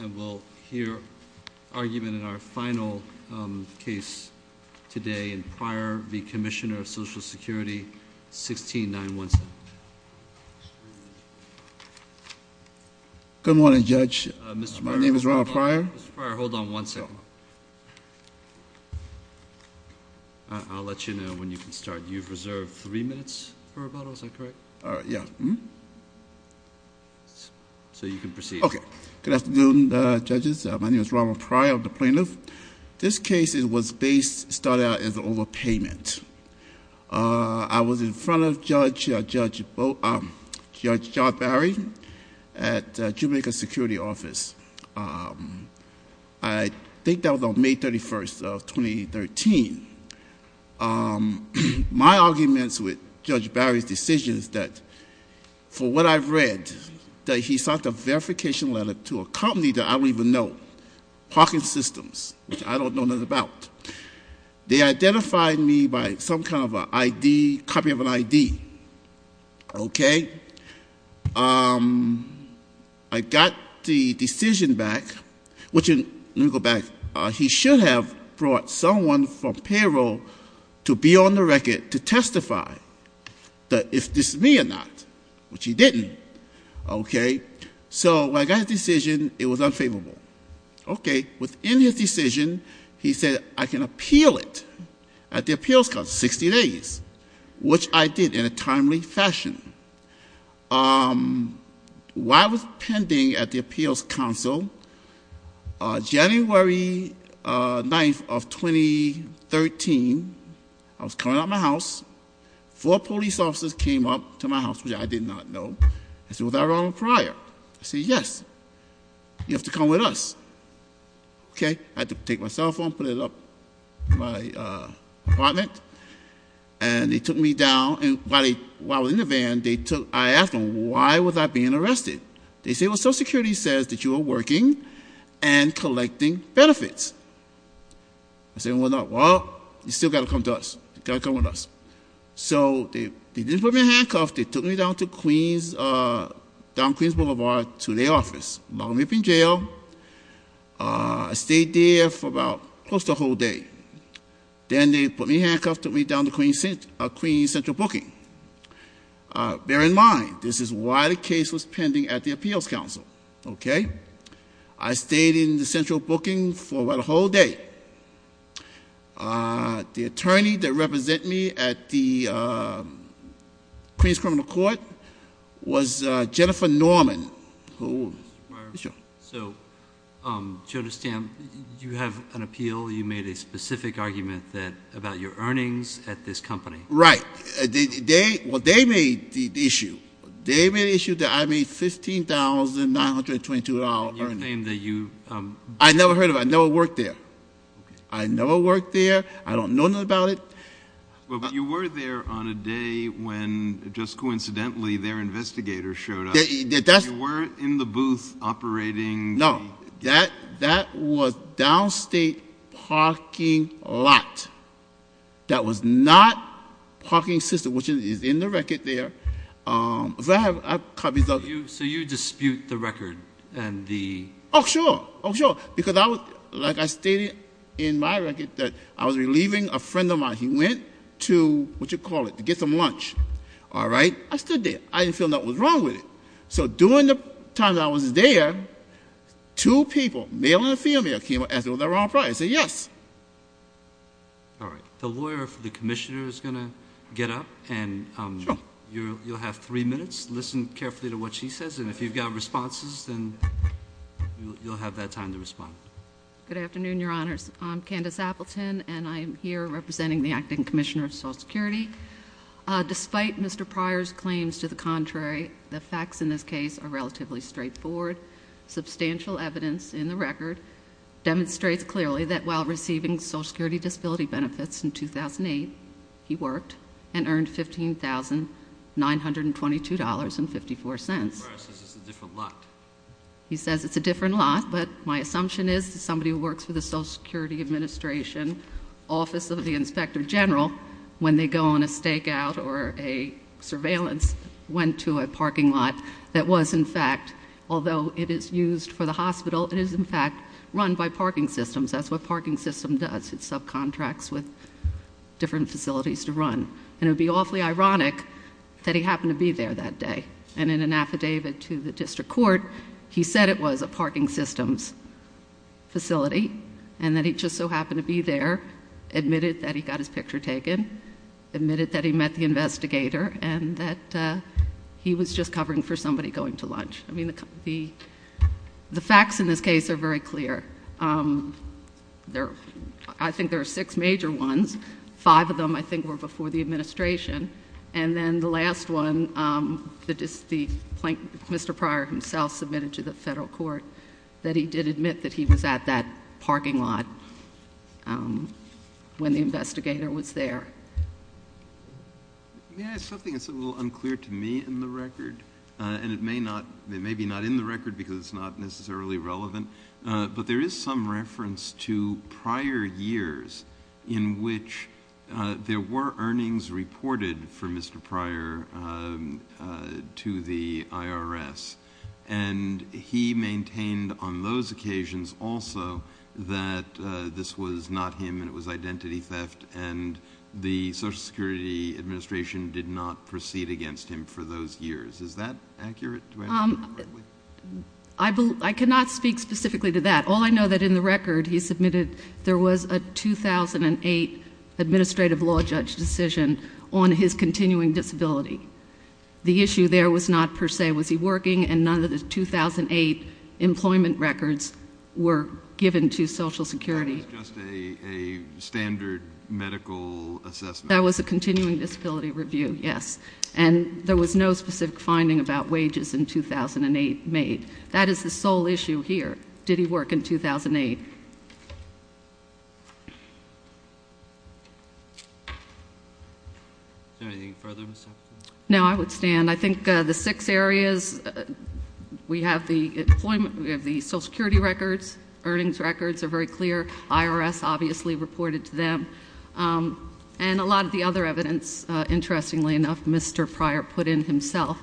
And we'll hear argument in our final case today in Pryor v. Commissioner of Social Security, 16-9-1-7. Good morning, Judge. My name is Ronald Pryor. Mr. Pryor, hold on one second. I'll let you know when you can start. You've reserved three minutes for rebuttal, is that correct? Yeah. So you can proceed. Okay. Good afternoon, Judges. My name is Ronald Pryor. I'm the plaintiff. This case was based, started out as an overpayment. I was in front of Judge John Barry at the Juvenile Security Office. I think that was on May 31st of 2013. My arguments with Judge Barry's decision is that, for what I've read, that he sent a verification letter to a company that I don't even know, Hawking Systems, which I don't know nothing about. They identified me by some kind of an ID, copy of an ID. Okay. I got the decision back, which, let me go back. He should have brought someone from payroll to be on the record to testify that if this is me or not, which he didn't. Okay. So when I got the decision, it was unfavorable. Okay. Within his decision, he said I can appeal it at the Appeals Council, 60 days, which I did in a timely fashion. While I was pending at the Appeals Council, January 9th of 2013, I was coming out of my house. Four police officers came up to my house, which I did not know. I said, was I Ronald Pryor? I said, yes. You have to come with us. Okay. I had to take my cell phone, put it up in my apartment, and they took me down. And while I was in the van, I asked them, why was I being arrested? They said, well, Social Security says that you are working and collecting benefits. I said, well, no. Well, you still got to come to us. You got to come with us. So they didn't put me in handcuffs. They took me down to Queens Boulevard to their office. Locked me up in jail. I stayed there for about close to a whole day. Then they put me in handcuffs, took me down to Queens Central Booking. Bear in mind, this is while the case was pending at the Appeals Council. Okay. I stayed in the Central Booking for about a whole day. The attorney that represented me at the Queens Criminal Court was Jennifer Norman. Mr. Pryor. Yes, sir. So, Joe DeStand, you have an appeal. You made a specific argument about your earnings at this company. Right. Well, they made the issue. They made the issue that I made $15,922 earnings. And you claimed that you – I never heard of it. I never worked there. I never worked there. I don't know nothing about it. Well, but you were there on a day when, just coincidentally, their investigators showed up. You weren't in the booth operating the – No. That was downstate parking lot. That was not parking system, which is in the record there. If I have copies of – So you dispute the record and the – Oh, sure. Oh, sure. Because I was – like I stated in my record that I was relieving a friend of mine. He went to – what do you call it? To get some lunch. All right? I stood there. I didn't feel nothing was wrong with it. So during the time that I was there, two people, male and a female, came up and asked me was I Ron Pryor. I said yes. All right. The lawyer for the commissioner is going to get up. Sure. And you'll have three minutes. Listen carefully to what she says. And if you've got responses, then you'll have that time to respond. Good afternoon, Your Honors. I'm Candace Appleton, and I'm here representing the acting commissioner of Social Security. Despite Mr. Pryor's claims to the contrary, the facts in this case are relatively straightforward. Substantial evidence in the record demonstrates clearly that while receiving Social Security disability benefits in 2008, he worked and earned $15,922.54. Pryor says it's a different lot. He says it's a different lot, but my assumption is that somebody who works for the Social Security Administration Office of the Inspector General, when they go on a stakeout or a surveillance, went to a parking lot that was, in fact, although it is used for the hospital, it is, in fact, run by parking systems. That's what a parking system does. It subcontracts with different facilities to run. And it would be awfully ironic that he happened to be there that day. And in an affidavit to the district court, he said it was a parking systems facility, and that he just so happened to be there, admitted that he got his picture taken, admitted that he met the investigator, and that he was just covering for somebody going to lunch. I mean, the facts in this case are very clear. I think there are six major ones. Five of them, I think, were before the administration. And then the last one, Mr. Pryor himself submitted to the federal court that he did admit that he was at that parking lot when the investigator was there. May I ask something that's a little unclear to me in the record? And it may be not in the record because it's not necessarily relevant. But there is some reference to prior years in which there were earnings reported for Mr. Pryor to the IRS. And he maintained on those occasions also that this was not him and it was identity theft, and the Social Security Administration did not proceed against him for those years. Is that accurate? I cannot speak specifically to that. All I know that in the record he submitted there was a 2008 administrative law judge decision on his continuing disability. The issue there was not per se was he working, and none of the 2008 employment records were given to Social Security. That was just a standard medical assessment. That was a continuing disability review, yes. And there was no specific finding about wages in 2008 made. That is the sole issue here. Did he work in 2008? Is there anything further, Ms. Huffington? No, I would stand. I think the six areas, we have the employment, we have the Social Security records, earnings records are very clear. IRS obviously reported to them. And a lot of the other evidence, interestingly enough, Mr. Pryor put in himself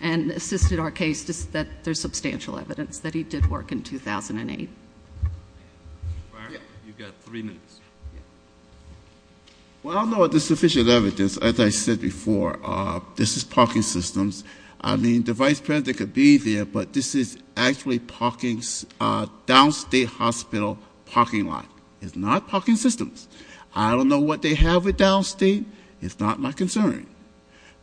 and assisted our case, just that there's substantial evidence that he did work in 2008. Mr. Pryor, you've got three minutes. Well, I don't know if there's sufficient evidence. As I said before, this is parking systems. I mean, the Vice President could be there, but this is actually downstate hospital parking lot. It's not parking systems. I don't know what they have with downstate. It's not my concern.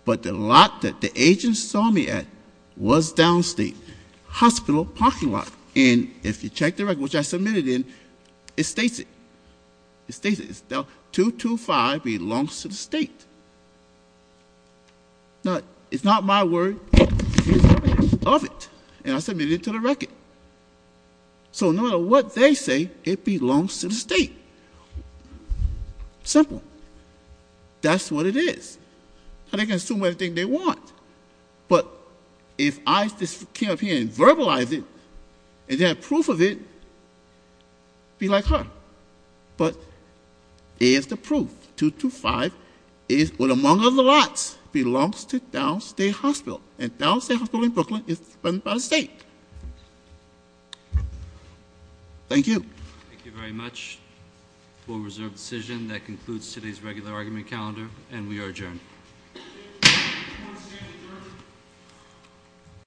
But the lot that the agents saw me at was downstate hospital parking lot. And if you check the record, which I submitted in, it states it. It states it. It's 225 belongs to the state. Now, it's not my word. It's submitted of it. And I submitted it to the record. So no matter what they say, it belongs to the state. Simple. That's what it is. And they can assume anything they want. But if I just came up here and verbalized it and had proof of it, it would be like her. But here's the proof. 225 is one among other lots, belongs to downstate hospital. And downstate hospital in Brooklyn is run by the state. Thank you. Thank you very much. We'll reserve the decision. That concludes today's regular argument calendar. And we are adjourned.